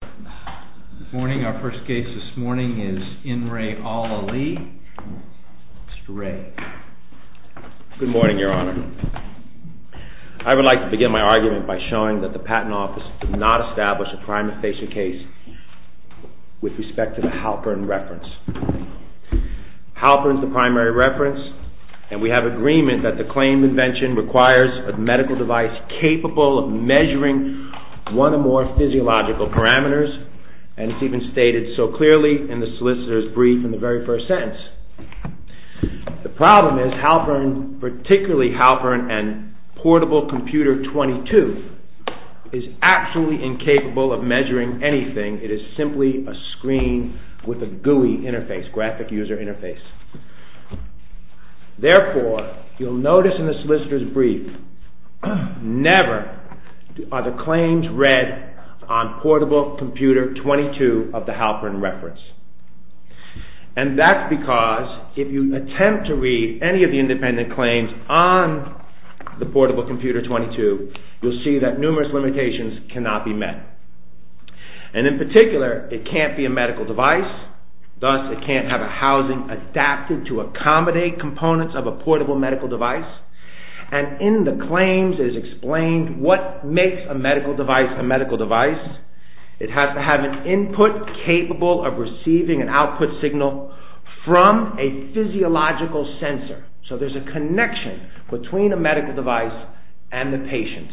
Good morning, Your Honor. I would like to begin my argument by showing that the Patent Office did not establish a crime of patient case with respect to the Halperin reference. Halperin is the primary reference, and we have agreement that the claim invention requires a medical device capable of measuring one or more physiological parameters, and it's even stated so clearly in the solicitor's brief in the very first sentence. The problem is Halperin, particularly Halperin and portable computer 22, is absolutely incapable of measuring anything. It is simply a screen with a GUI interface, graphic user interface. Therefore, you'll notice in the solicitor's brief, never are the claims read on portable computer 22 of the Halperin reference. And that's because if you attempt to read any of the independent claims on the portable computer 22, you'll see that numerous limitations cannot be met. And in particular, it can't be a medical device, thus it can't have a housing adapted to accommodate components of a medical device. And in the claims is explained what makes a medical device a medical device. It has to have an input capable of receiving an output signal from a physiological sensor. So there's a connection between a medical device and the patient.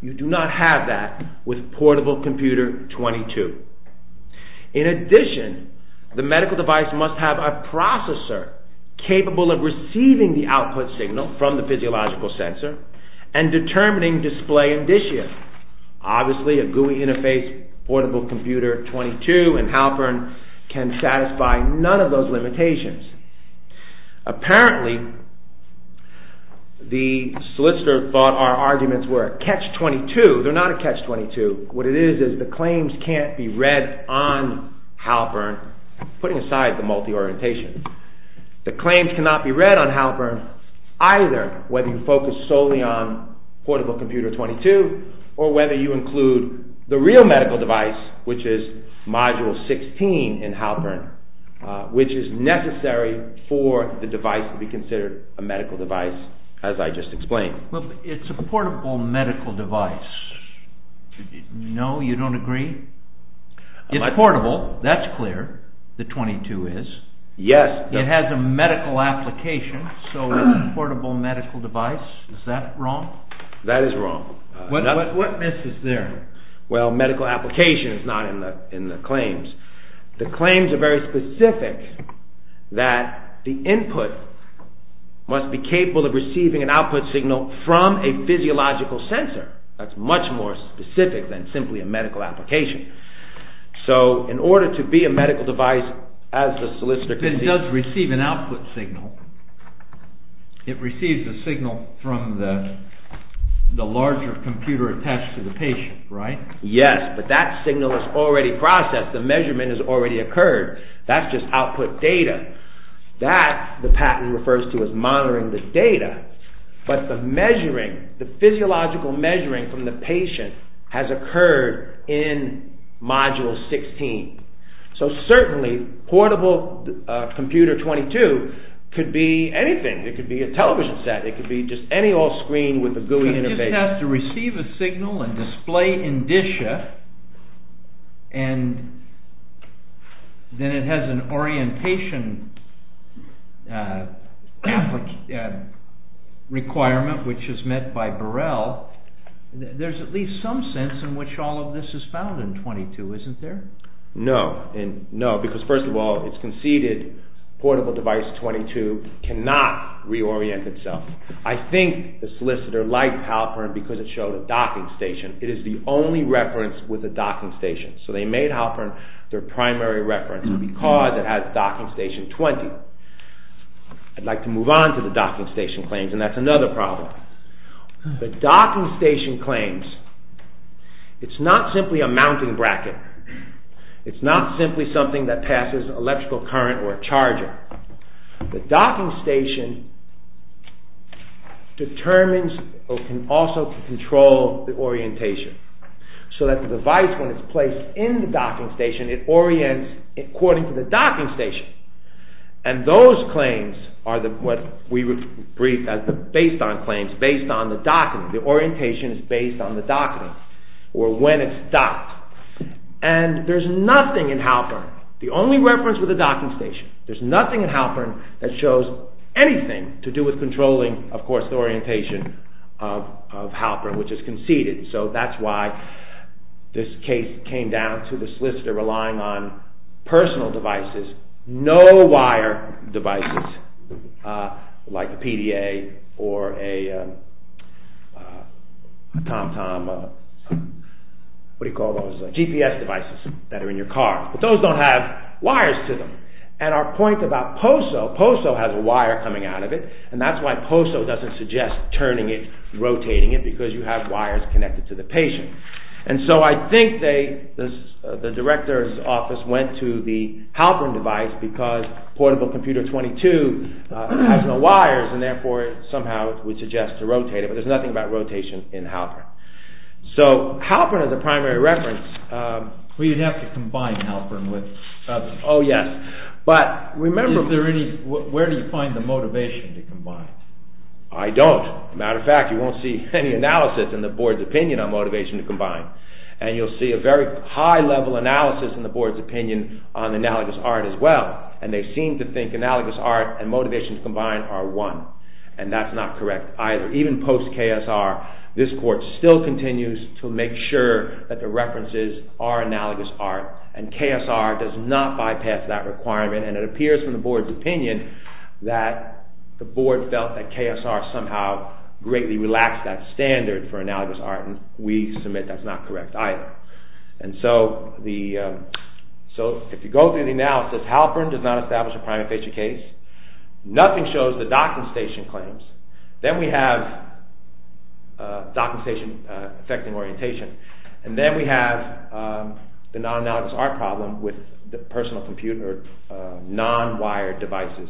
You do not have that with portable computer 22. In addition, the medical device must have a processor capable of receiving the output signal from the physiological sensor and determining display indicia. Obviously, a GUI interface portable computer 22 and Halperin can satisfy none of those limitations. Apparently, the solicitor thought our arguments were a catch 22. They're not a catch 22. What it is is the claims can't be read on Halperin, putting aside the multi-orientation. The claims cannot be read on Halperin, either whether you focus solely on portable computer 22, or whether you include the real medical device, which is module 16 in Halperin, which is necessary for the device to be considered a medical device, as I just explained. Well, it's a portable medical device. No, you the 22 is. Yes. It has a medical application, so it's a portable medical device. Is that wrong? That is wrong. What miss is there? Well, medical application is not in the claims. The claims are very specific that the input must be capable of receiving an output signal from a physiological sensor. That's much more specific than simply a medical application. So, in order to be a medical device, as the solicitor does receive an output signal, it receives a signal from the larger computer attached to the patient, right? Yes, but that signal is already processed. The measurement has already occurred. That's just output data. That, the patent refers to as monitoring the physiological measuring from the patient, has occurred in module 16. So, certainly, portable computer 22 could be anything. It could be a television set. It could be just any off-screen with a GUI interface. It has to receive a signal and display in Disha, and then it has an application requirement, which is met by Burrell. There's at least some sense in which all of this is found in 22, isn't there? No, because first of all, it's conceded portable device 22 cannot reorient itself. I think the solicitor liked Halpern because it showed a docking station. It is the only reference with a docking station. So, they made Halpern their primary reference because it has docking station 20. I'd like to move on to the docking station claims, and that's another problem. The docking station claims, it's not simply a mounting bracket. It's not simply something that passes electrical current or a charger. The docking station determines, or can also control, the orientation so that the device, when it's placed in the docking station, it orients according to the docking station. And those claims are what we would brief as the based on claims, based on the docking. The orientation is based on the docking, or when it's docked. And there's nothing in Halpern, the only reference with a docking station, there's nothing in Halpern that shows anything to do with controlling, of course, the orientation of Halpern, which is conceded. So, that's why this case came down to the relying on personal devices, no wire devices, like a PDA or a TomTom, what do you call those, GPS devices that are in your car. But those don't have wires to them. And our point about POSO, POSO has a wire coming out of it, and that's why POSO doesn't suggest turning it, rotating it, because you have wires connected to the patient. And so, I think the director's office went to the Halpern device because portable computer 22 has no wires, and therefore, somehow, it would suggest to rotate it. But there's nothing about rotation in Halpern. So, Halpern is a primary reference. We'd have to combine Halpern with others. Oh, yes. But, remember... Where do you find the motivation to combine? I don't. Matter of fact, you won't see any analysis in the board's opinion on motivation to combine. And you'll see a very high level analysis in the board's opinion on analogous art as well. And they seem to think analogous art and motivations combined are one. And that's not correct either. Even post-KSR, this court still continues to make sure that the references are analogous art. And KSR does not bypass that requirement, and it appears from the board's opinion that the board felt that KSR somehow greatly relaxed that standard for analogous art. And we submit that's not correct either. And so, if you go through the analysis, Halpern does not establish a primary facial case. Nothing shows the docking station claims. Then we have docking station affecting orientation. And then we have the non-analogous art problem with the personal computer, non-wired devices.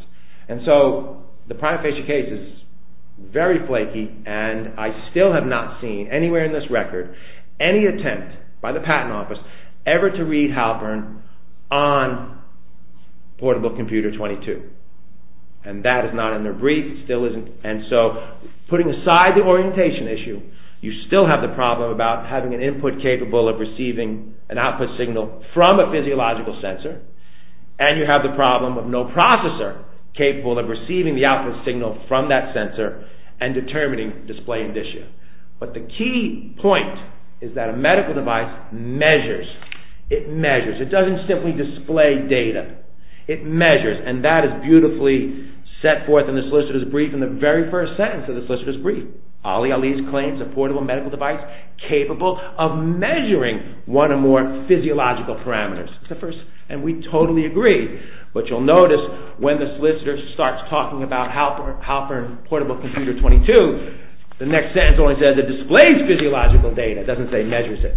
And so, the primary facial case is very flaky, and I still have not seen anywhere in this record, any attempt by the patent office ever to read Halpern on portable computer 22. And that is not in their brief. It still isn't. And so, putting aside the orientation issue, you still have the problem about having an input capable of receiving an output signal from a physiological sensor, and you have the problem of no processor capable of receiving the output signal from that sensor and determining display indicia. But the key point is that a medical device measures. It measures. It doesn't simply display data. It measures, and that is beautifully set forth in the solicitor's brief in the very first sentence of the solicitor's brief. Ali Ali's claims a portable medical device capable of measuring one or more physiological parameters. It's the first, and we totally agree. But you'll notice when the solicitor starts talking about Halpern portable computer 22, the next sentence only says it displays physiological data. It doesn't say measures it.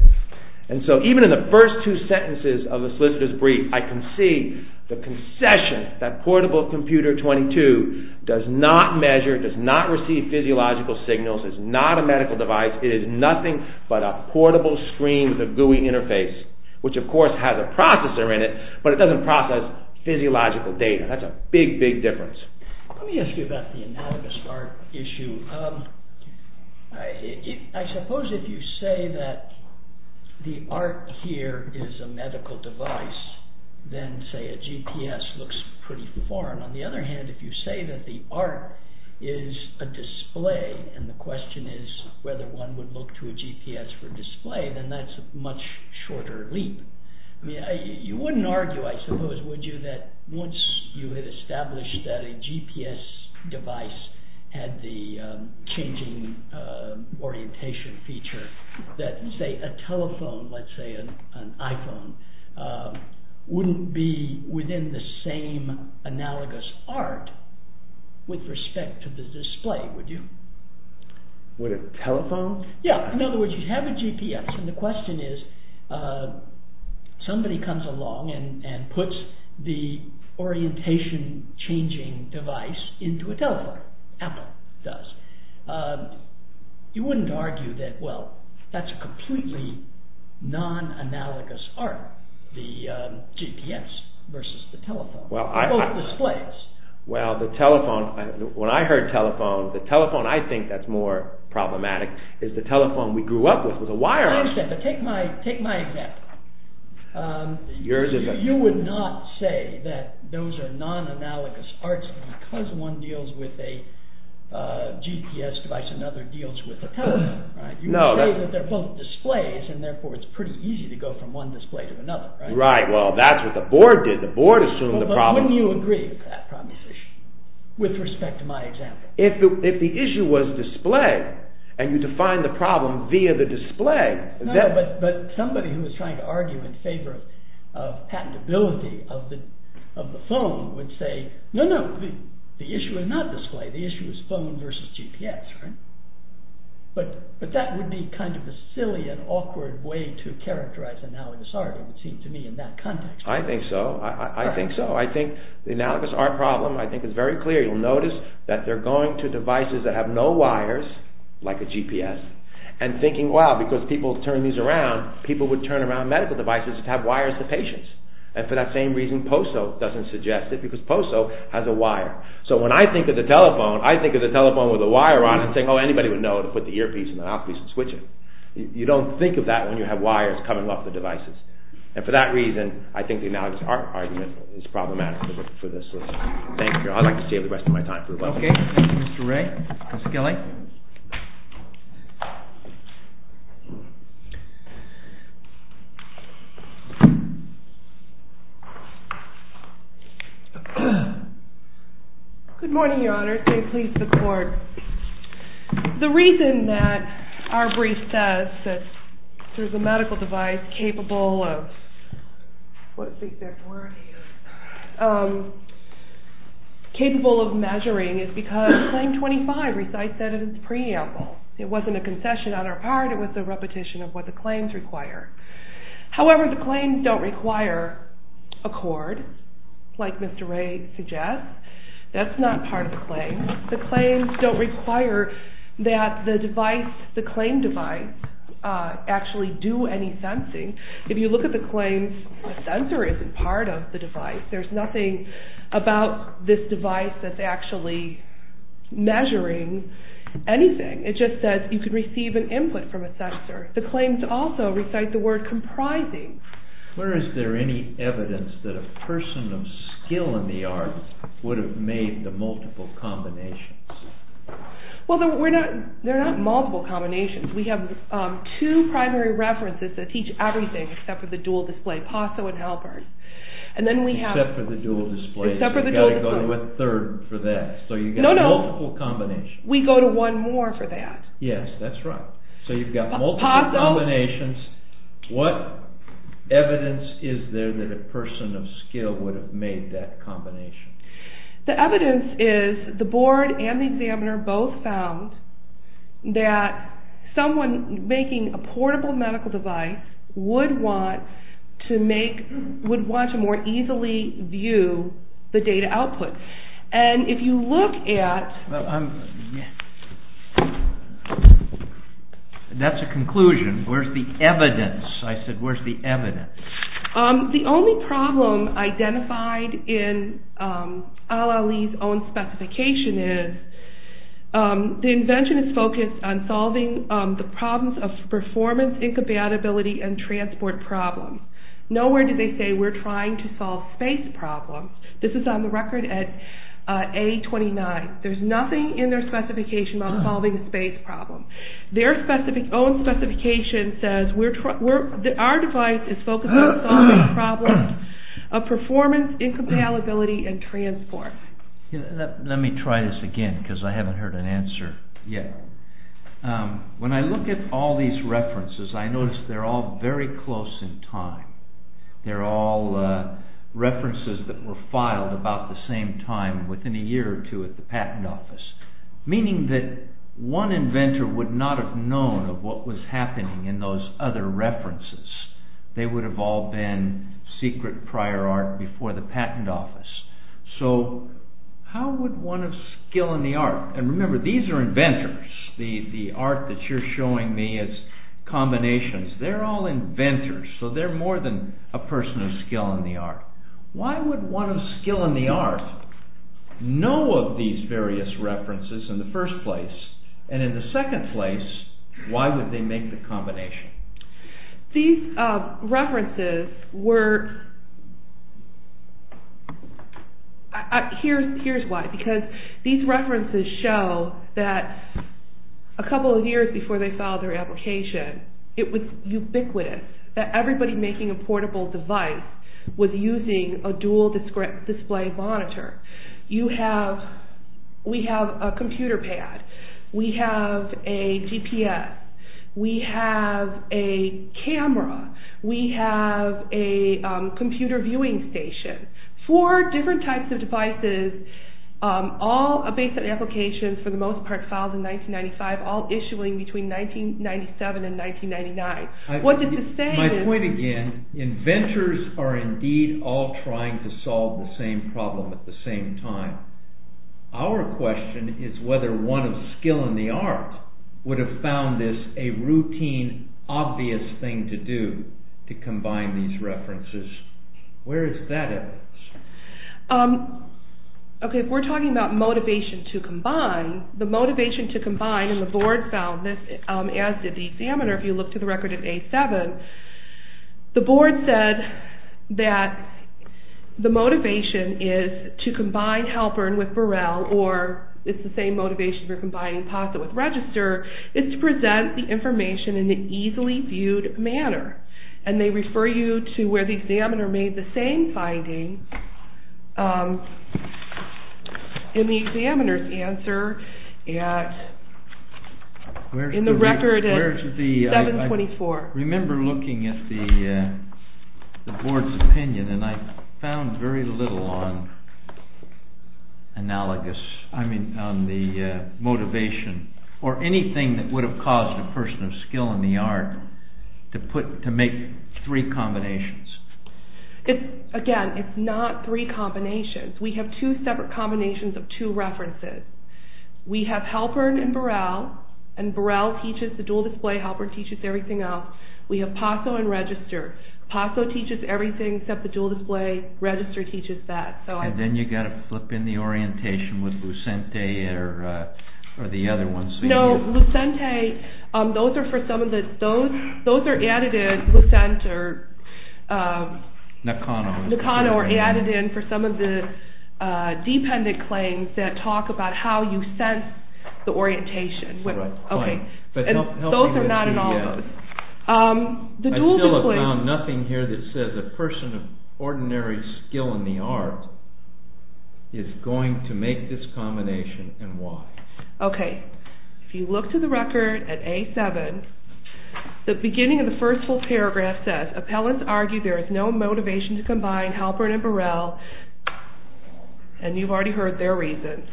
And so, even in the first two sentences of the solicitor's brief, I can see the concession that portable computer 22 does not measure, does not receive physiological signals, it's not a medical device, it is nothing but a portable screen with a GUI interface, which of course has a processor in it, but it doesn't process physiological data. That's a big, big difference. Let me ask you about the anatomist art issue. I suppose if you say that the art here is a medical device, then say a GPS looks pretty foreign. On the other hand, if you say that the art is a display, and the question is whether one would look to a GPS for display, then that's a much shorter leap. You wouldn't argue, I suppose, would you, that once you had established that a GPS device had the changing orientation feature, that say a telephone, let's say an iPhone, wouldn't be within the same analogous art with respect to the display, would you? Would a telephone? Yeah, in other words, you have a GPS, and the question is, somebody comes along and puts the orientation changing device into a telephone, Apple does. You wouldn't argue that, well, that's a completely non-analogous art, the GPS versus the telephone, both displays. Well, the telephone, when I heard the telephone, I think that's more problematic, is the telephone we grew up with was a wire. I understand, but take my example. You would not say that those are non-analogous arts because one deals with a GPS device and the other deals with a telephone, right? You would say that they're both displays, and therefore it's pretty easy to go from one display to another, right? Right, well, that's what the board did, the board assumed the problem. But wouldn't you agree with that example? If the issue was display, and you define the problem via the display... No, but somebody who was trying to argue in favor of patentability of the phone would say, no, no, the issue is not display, the issue is phone versus GPS, right? But that would be kind of a silly and awkward way to characterize analogous art, it would seem to me, in that context. I think so, I think so, I think the analogous art problem, I think it's very clear, you'll notice that they're going to devices that have no wires, like a GPS, and thinking, wow, because people turn these around, people would turn around medical devices that have wires to patients. And for that same reason, POSO doesn't suggest it, because POSO has a wire. So when I think of the telephone, I think of the telephone with a wire on it, saying, oh, anybody would know to put the earpiece and the mouthpiece and switch it. You don't think of that when you have wires coming off the devices. And for that matter, for this, thank you. I'd like to save the rest of my time for a while. Okay, Mr. Ray, Ms. Gilley. Good morning, Your Honor, say please to the court. The reason that our brief says that there's a device capable of measuring is because Claim 25 recites that in its preamble. It wasn't a concession on our part, it was a repetition of what the claims require. However, the claims don't require a cord, like Mr. Ray suggests. That's not part of the claim. The claims don't require that the device, the claim device, actually do any sensing. If you look at the claims, the sensor isn't part of the device. There's nothing about this device that's actually measuring anything. It just says you can receive an input from a sensor. The claims also recite the word comprising. Where is there any evidence that a person of skill in the arts would have made the multiple combinations? Well, they're not multiple combinations. We have two primary references that teach everything except for the dual display, PASO and Halpert. And then we have... Except for the dual display. Except for the dual display. So you've got to go to a third for that. No, no. So you've got multiple combinations. We go to one more for that. Yes, that's right. So you've got multiple combinations. PASO. What evidence is there that a person of skill would have made that combination? The evidence is the board and the examiner both found that someone making a portable medical device would want to more easily view the data output. And if you look at... That's a conclusion. Where's the evidence? I said where's the evidence? The only problem identified in Al Ali's own specification is the invention is focused on solving the problems of performance, incompatibility and transport problems. Nowhere did they say we're trying to solve space problems. This is on the record at A29. There's nothing in their specification about solving a space problem. Their own specification says our device is focused on solving problems of performance, incompatibility and transport. Let me try this again because I haven't heard an answer yet. When I look at all these references, I notice they're all very close in time. They're all references that were filed about the same time within a year or two at the patent office. Meaning that one inventor would not have known of what was happening in those other references. They would have all been secret prior art before the patent office. So how would one of skill in the art, and remember these are inventors. The art that you're showing me is combinations. They're all inventors. So they're more than a person of skill in the art. Why would one of skill in the art know of these various references in the first place? And in the second place, why would they make the combination? These references were, here's why. Because these references show that a couple of years before they filed their application, it was ubiquitous that everybody making a portable device was using a dual display monitor. We have a computer pad, we have a GPS, we have a camera, we have a computer viewing station. Four different types of devices, all a basic application for the most part filed in 1995, all issuing between 1997 and 1999. What did you say? My point again, inventors are indeed all trying to solve the same problem at the same time. Our question is whether one of skill in the art would have found this a routine, obvious thing to do to combine these references. Where is that at? Okay, if we're talking about motivation to combine, the motivation to combine and the board found this as did the examiner if you look to the record of A7, the board said that the motivation is to combine Halpern with Burrell or it's the same motivation for combining POSIT with Register, is to present the information in the easily viewed manner. And they refer you to where the examiner made the same finding in the examiner's answer in the record at 724. I remember looking at the board's opinion and I found very little on analogous, I mean on the motivation or anything that would have caused a person of skill in the art to make three combinations. Again, it's not three combinations, we have two separate combinations of two references. We have Halpern and Burrell and Burrell teaches the dual display, Halpern teaches everything else. We have PASO and Register. PASO teaches everything except the dual display, Register teaches that. And then you got to flip in the orientation with Lucente or the other ones. No, Lucente, those are for some of the, those are added in for some of the dependent claims that talk about how you sense the orientation. Those are not in all of those. I still have found nothing here that says a person of ordinary skill in the art is going to make this combination and why. Okay, if you look to the record at A7, the beginning of the first full paragraph says, appellants argue there is no motivation to combine Halpern and Burrell and you've already heard their reasons.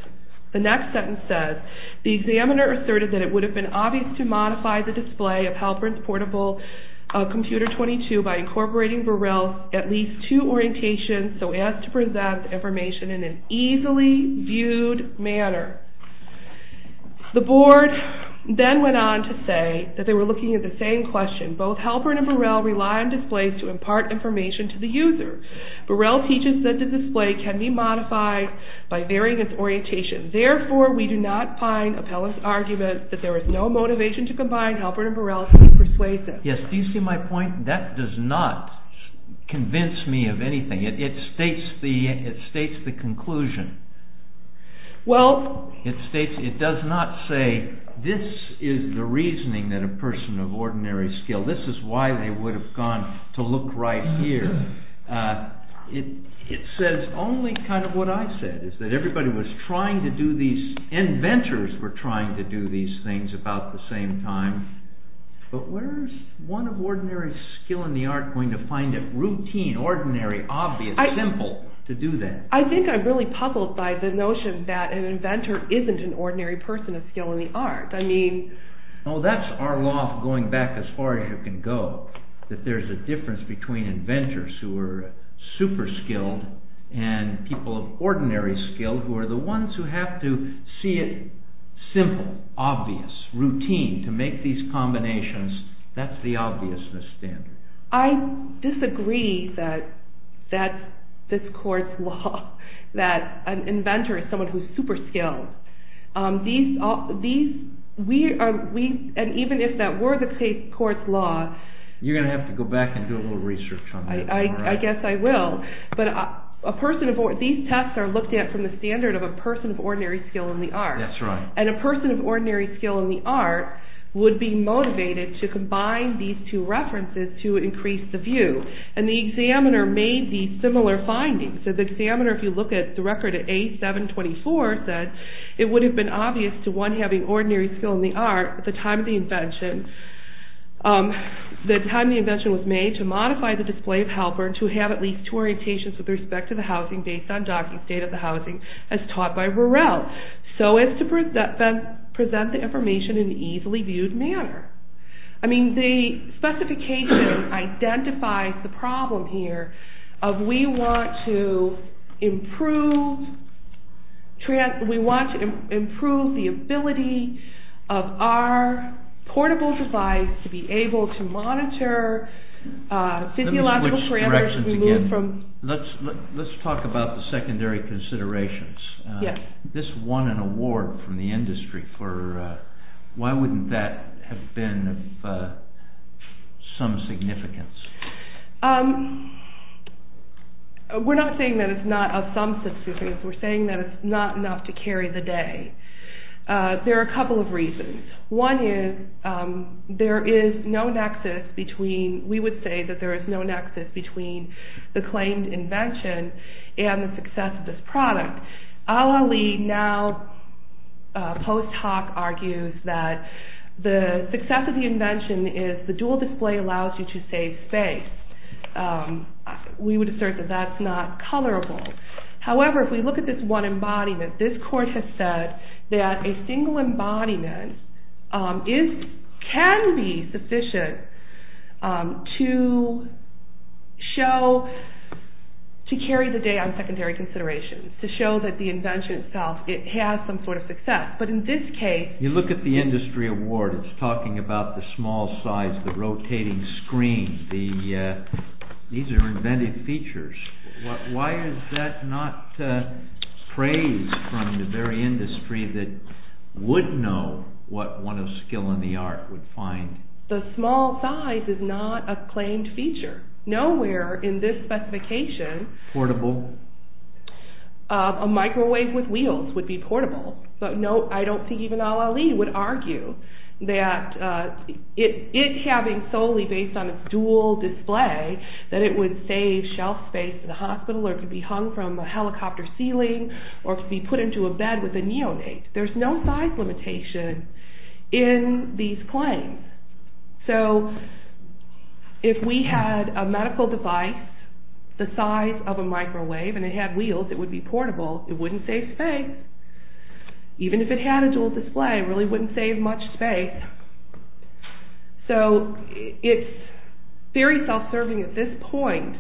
The next sentence says, the examiner asserted that it would have been obvious to modify the display of Halpern's portable computer 22 by incorporating Burrell's at least two orientations so as to then went on to say that they were looking at the same question. Both Halpern and Burrell rely on displays to impart information to the user. Burrell teaches that the display can be modified by varying its orientation. Therefore, we do not find appellant's argument that there is no motivation to combine Halpern and Burrell persuasive. Yes, do you see my point? That does not convince me of anything. It states the, it states the conclusion. Well, it states, it does not say this is the reasoning that a person of ordinary skill, this is why they would have gone to look right here. It says only kind of what I said is that everybody was trying to do these, inventors were trying to do these things about the same time but where's one of ordinary skill in the art going to find it routine, ordinary, obvious, simple to do that? I think I'm really by the notion that an inventor isn't an ordinary person of skill in the art. I mean, oh that's our law going back as far as you can go that there's a difference between inventors who are super skilled and people of ordinary skill who are the ones who have to see it simple, obvious, routine to make these combinations. That's the obviousness standard. I disagree that that's this court's law that an inventor is someone who's super skilled. These, these, we are, we, and even if that were the court's law. You're going to have to go back and do a little research on that. I guess I will but a person of, these tests are looked at from the standard of a person of ordinary skill in the art. That's right. And a person of ordinary skill in the art would be motivated to combine these two references to increase the view. And the examiner made these similar findings. So the examiner, if you look at the record at A724, said it would have been obvious to one having ordinary skill in the art at the time of the invention, the time the invention was made to modify the display of helper to have at least two orientations with respect to the housing based on docking state of the housing as taught by Rorel. So as to present the information in an easily viewed manner. I mean the specification identifies the problem here of we want to improve, we want to improve the ability of our portable device to be able to monitor physiological parameters removed from. Let's talk about the secondary considerations. This won an award from the industry for, why wouldn't that have been of some significance? We're not saying that it's not of some significance, we're saying that it's not enough to carry the day. There are a couple of reasons. One is there is no nexus between, we would say that there is no nexus between the claimed invention and the success of this product. Ali now post hoc argues that the success of the invention is the dual display allows you to save space. We would assert that that's not colorable. However, if we look at this one embodiment, this court has said that a single embodiment can be sufficient to show, to carry the day on secondary considerations, to show that the invention itself, it has some sort of success. But in this case... You look at the industry award, it's talking about the small size, the rotating screen, these are invented features. Why is that not praised from the very industry that would know what one of skill in the art would find? The small size is not a claimed feature. Nowhere in this specification... Portable? A microwave with wheels would be portable. But no, I don't think even Ali would argue that it having solely based on a dual display, that it would save shelf space in the hospital or could be hung from a helicopter ceiling or could be put into a bed with a neonate. There's no size limitation in these claims. So if we had a medical device the size of a microwave and it had wheels, it would be portable, it wouldn't save space. Even if it had a dual display, it really wouldn't save much space. So it's very self-serving at this point,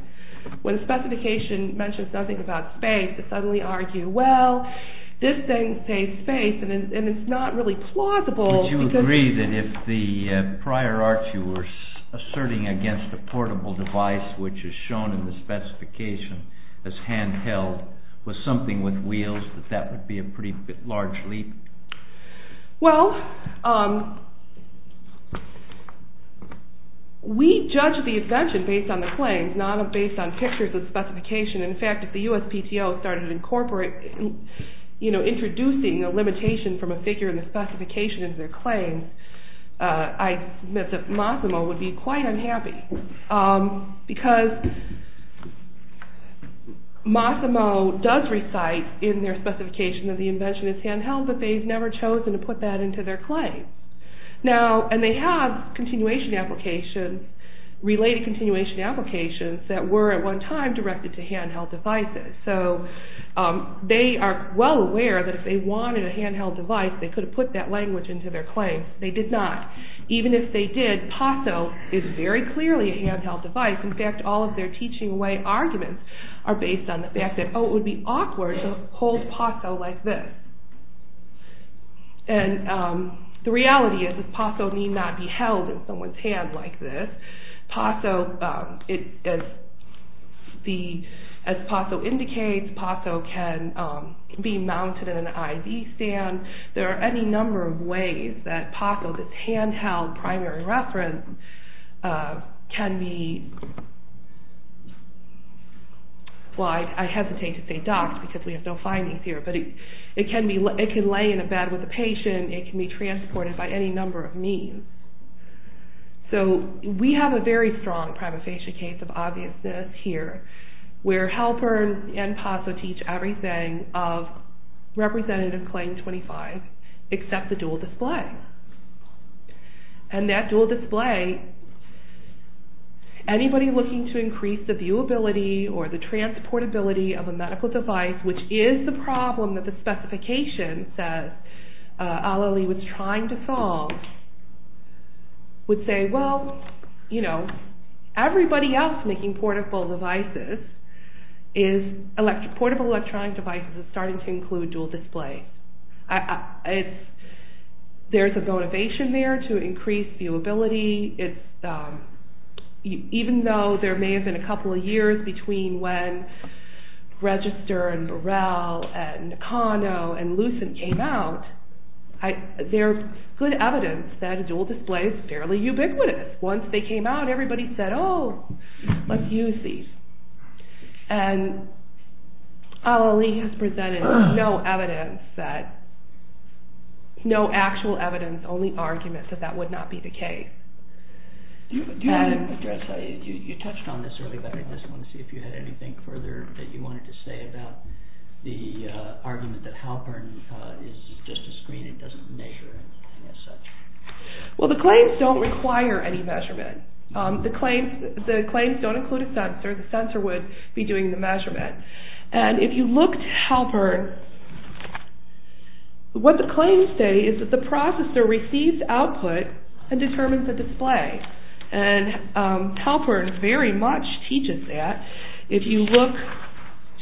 when the specification mentions nothing about space, to suddenly argue, well, this thing saves space and it's not really plausible... Would you agree that if the prior art you were asserting against a portable device, which is shown in the specification as handheld, was something with wheels, that that would be a pretty large leap? Well, we judge the invention based on the claims, not based on pictures of specification. In fact, if the USPTO started introducing a limitation from a figure in the specification in their claim, I submit that Mossimo would be quite unhappy. Because Mossimo does recite in their specification that the invention is handheld, but they've never chosen to put that into their claim. And they have related continuation applications that were at one time directed to handheld devices. So they are well aware that if they wanted a handheld device, they could have put that language into their claim. They did not. Even if they did, PASO is very clearly a handheld device. In fact, all of their teaching way arguments are based on the fact that, oh, it would be awkward to hold PASO like this. And the reality is that PASO need not be held in someone's hand like this. PASO, as PASO indicates, PASO can be mounted in an ID stand. There are any number of ways that PASO, this handheld primary reference, can be...well, I hesitate to say docked because we have no findings here, but it can lay in a bed with a patient. It can be transported by any number of means. So we have a very strong prima facie case of obviousness here where Halpern and PASO teach everything of Representative Claim 25 except the dual display. And that dual display, anybody looking to increase the viewability or the transportability of a medical device, which is the problem that the specification says Alali was trying to solve, would say, well, you know, everybody else making portable devices is...portable electronic devices is starting to include dual display. There's a motivation there to increase viewability. Even though there may have been a couple of years between when Register and Burrell and Nakano and Lucent came out, there's good evidence that dual display is fairly ubiquitous. Once they came out, everybody said, oh, let's use these. And Alali has presented no evidence that...no actual evidence, only arguments that that would not be the case. And... You touched on this earlier, but I just wanted to see if you had anything further that you wanted to say about the argument that Halpern is just a screen. It doesn't measure anything as such. Well, the claims don't require any measurement. The claims don't include a sensor. The sensor would be doing the measurement. And if you look to Halpern, what the claims say is that the processor receives output and determines the display. And Halpern very much teaches that. If you look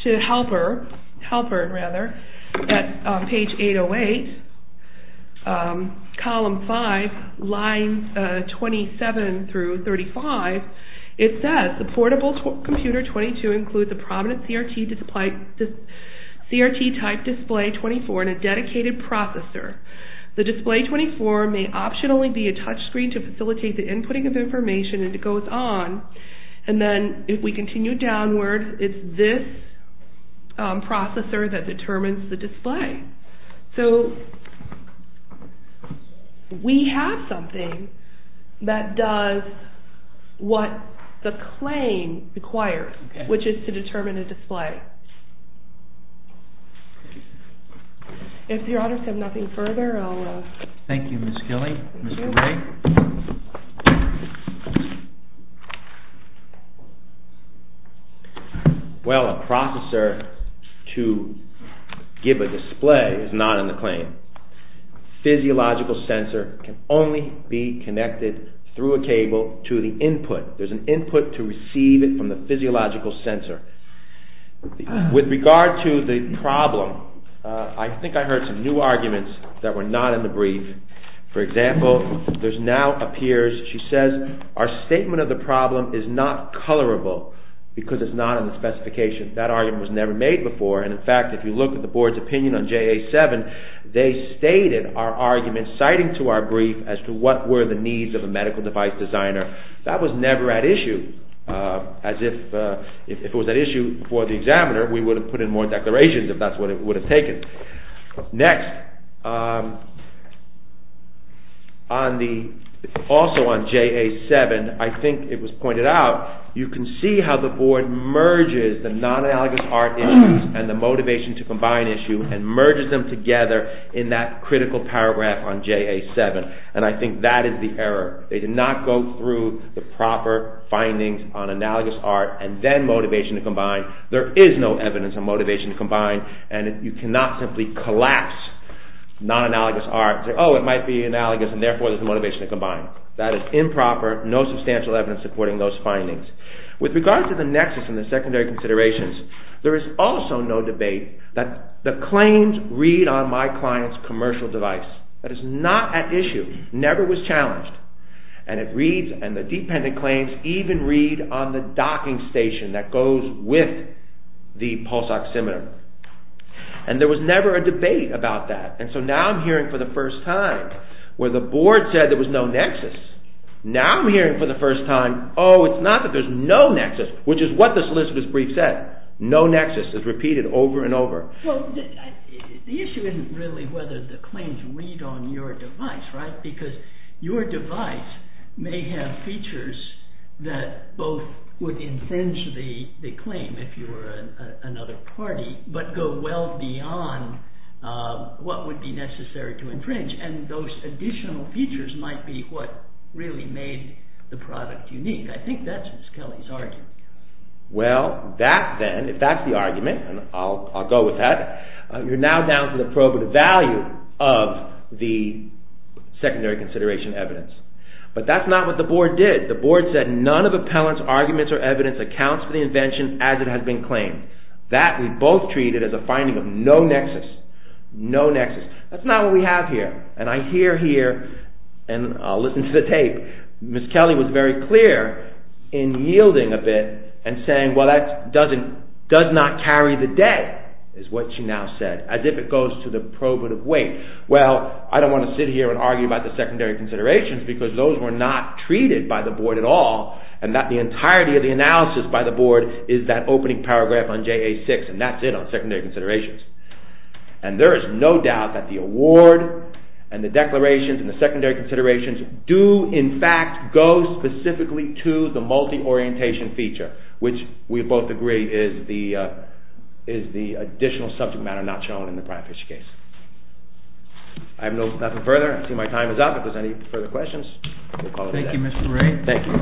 to Halpern at page 808, column 5, lines 27 through 35, it says, the portable computer 22 includes a prominent CRT type display 24 and a dedicated processor. The display 24 may optionally be a touch screen to facilitate the inputting of information as it goes on. And then if we continue downward, it's this processor that determines the display. So we have something that does what the claim requires, which is to determine a display. If your honors have nothing further, I'll... Thank you, Ms. Gilley. Mr. Ray? Well, a processor to give a display is not in the claim. Physiological sensor can only be connected through a cable to the input. There's an input to receive it from the physiological sensor. With regard to the problem, I think I heard some new arguments that were not in the brief. For example, there now appears, she says, our statement of the problem is not colorable because it's not in the specification. That argument was never made before. And in fact, if you look at the board's opinion on JA 7, they stated our argument citing to our brief as to what were the needs of a medical device designer. That was never at issue. As if it was at issue for the examiner, we would have put in more declarations if that's what it would have taken. Next, also on JA 7, I think it was pointed out, you can see how the board merges the non-analogous art issues and the motivation to combine issue and merges them together in that critical paragraph on JA 7. And I think that is the error. They did not go through the proper findings on analogous art and then motivation to combine. There is no evidence on motivation to combine and you cannot simply collapse non-analogous art and say, oh, it might be analogous and therefore there is motivation to combine. That is improper. No substantial evidence supporting those findings. With regards to the nexus and the secondary considerations, there is also no debate that the claims read on my client's commercial device. That is not at issue. Never was challenged. And the dependent claims even read on the docking station that goes with the pulse oximeter. And there was never a debate about that. And so now I'm hearing for the first time where the board said there was no nexus. Now I'm hearing for the first time, oh, it's not that there is no nexus, which is what the solicitor's brief said. No nexus is repeated over and over. The issue isn't really whether the claims read on your device, right? Because your device may have features that both would infringe the claim if you were another party but go well beyond what would be necessary to infringe. And those additional features might be what really made the product unique. I think that's Ms. Kelly's argument. Well, that then, if that's the argument, and I'll go with that, you're now down to the probative value of the secondary consideration evidence. But that's not what the board did. The board said none of appellant's arguments or evidence accounts for the invention as it has been claimed. That we both treated as a finding of no nexus. No nexus. That's not what we have here. And I hear here, and I'll listen to the tape, Ms. Kelly was very clear in yielding a bit and saying, well that does not carry the day, is what she now said. As if it goes to the probative weight. Well, I don't want to sit here and argue about the secondary considerations because those were not treated by the board at all and that the entirety of the analysis by the board is that opening paragraph on JA-6 and that's it on secondary considerations. And there is no doubt that the award and the declarations and the secondary considerations do in fact go specifically to the multi-orientation feature, which we both agree is the additional subject matter not shown in the Pratt-Fish case. I have nothing further. I see my time is up. If there's any further questions, we'll call it a day. Thank you, Mr. Ray. Thank you.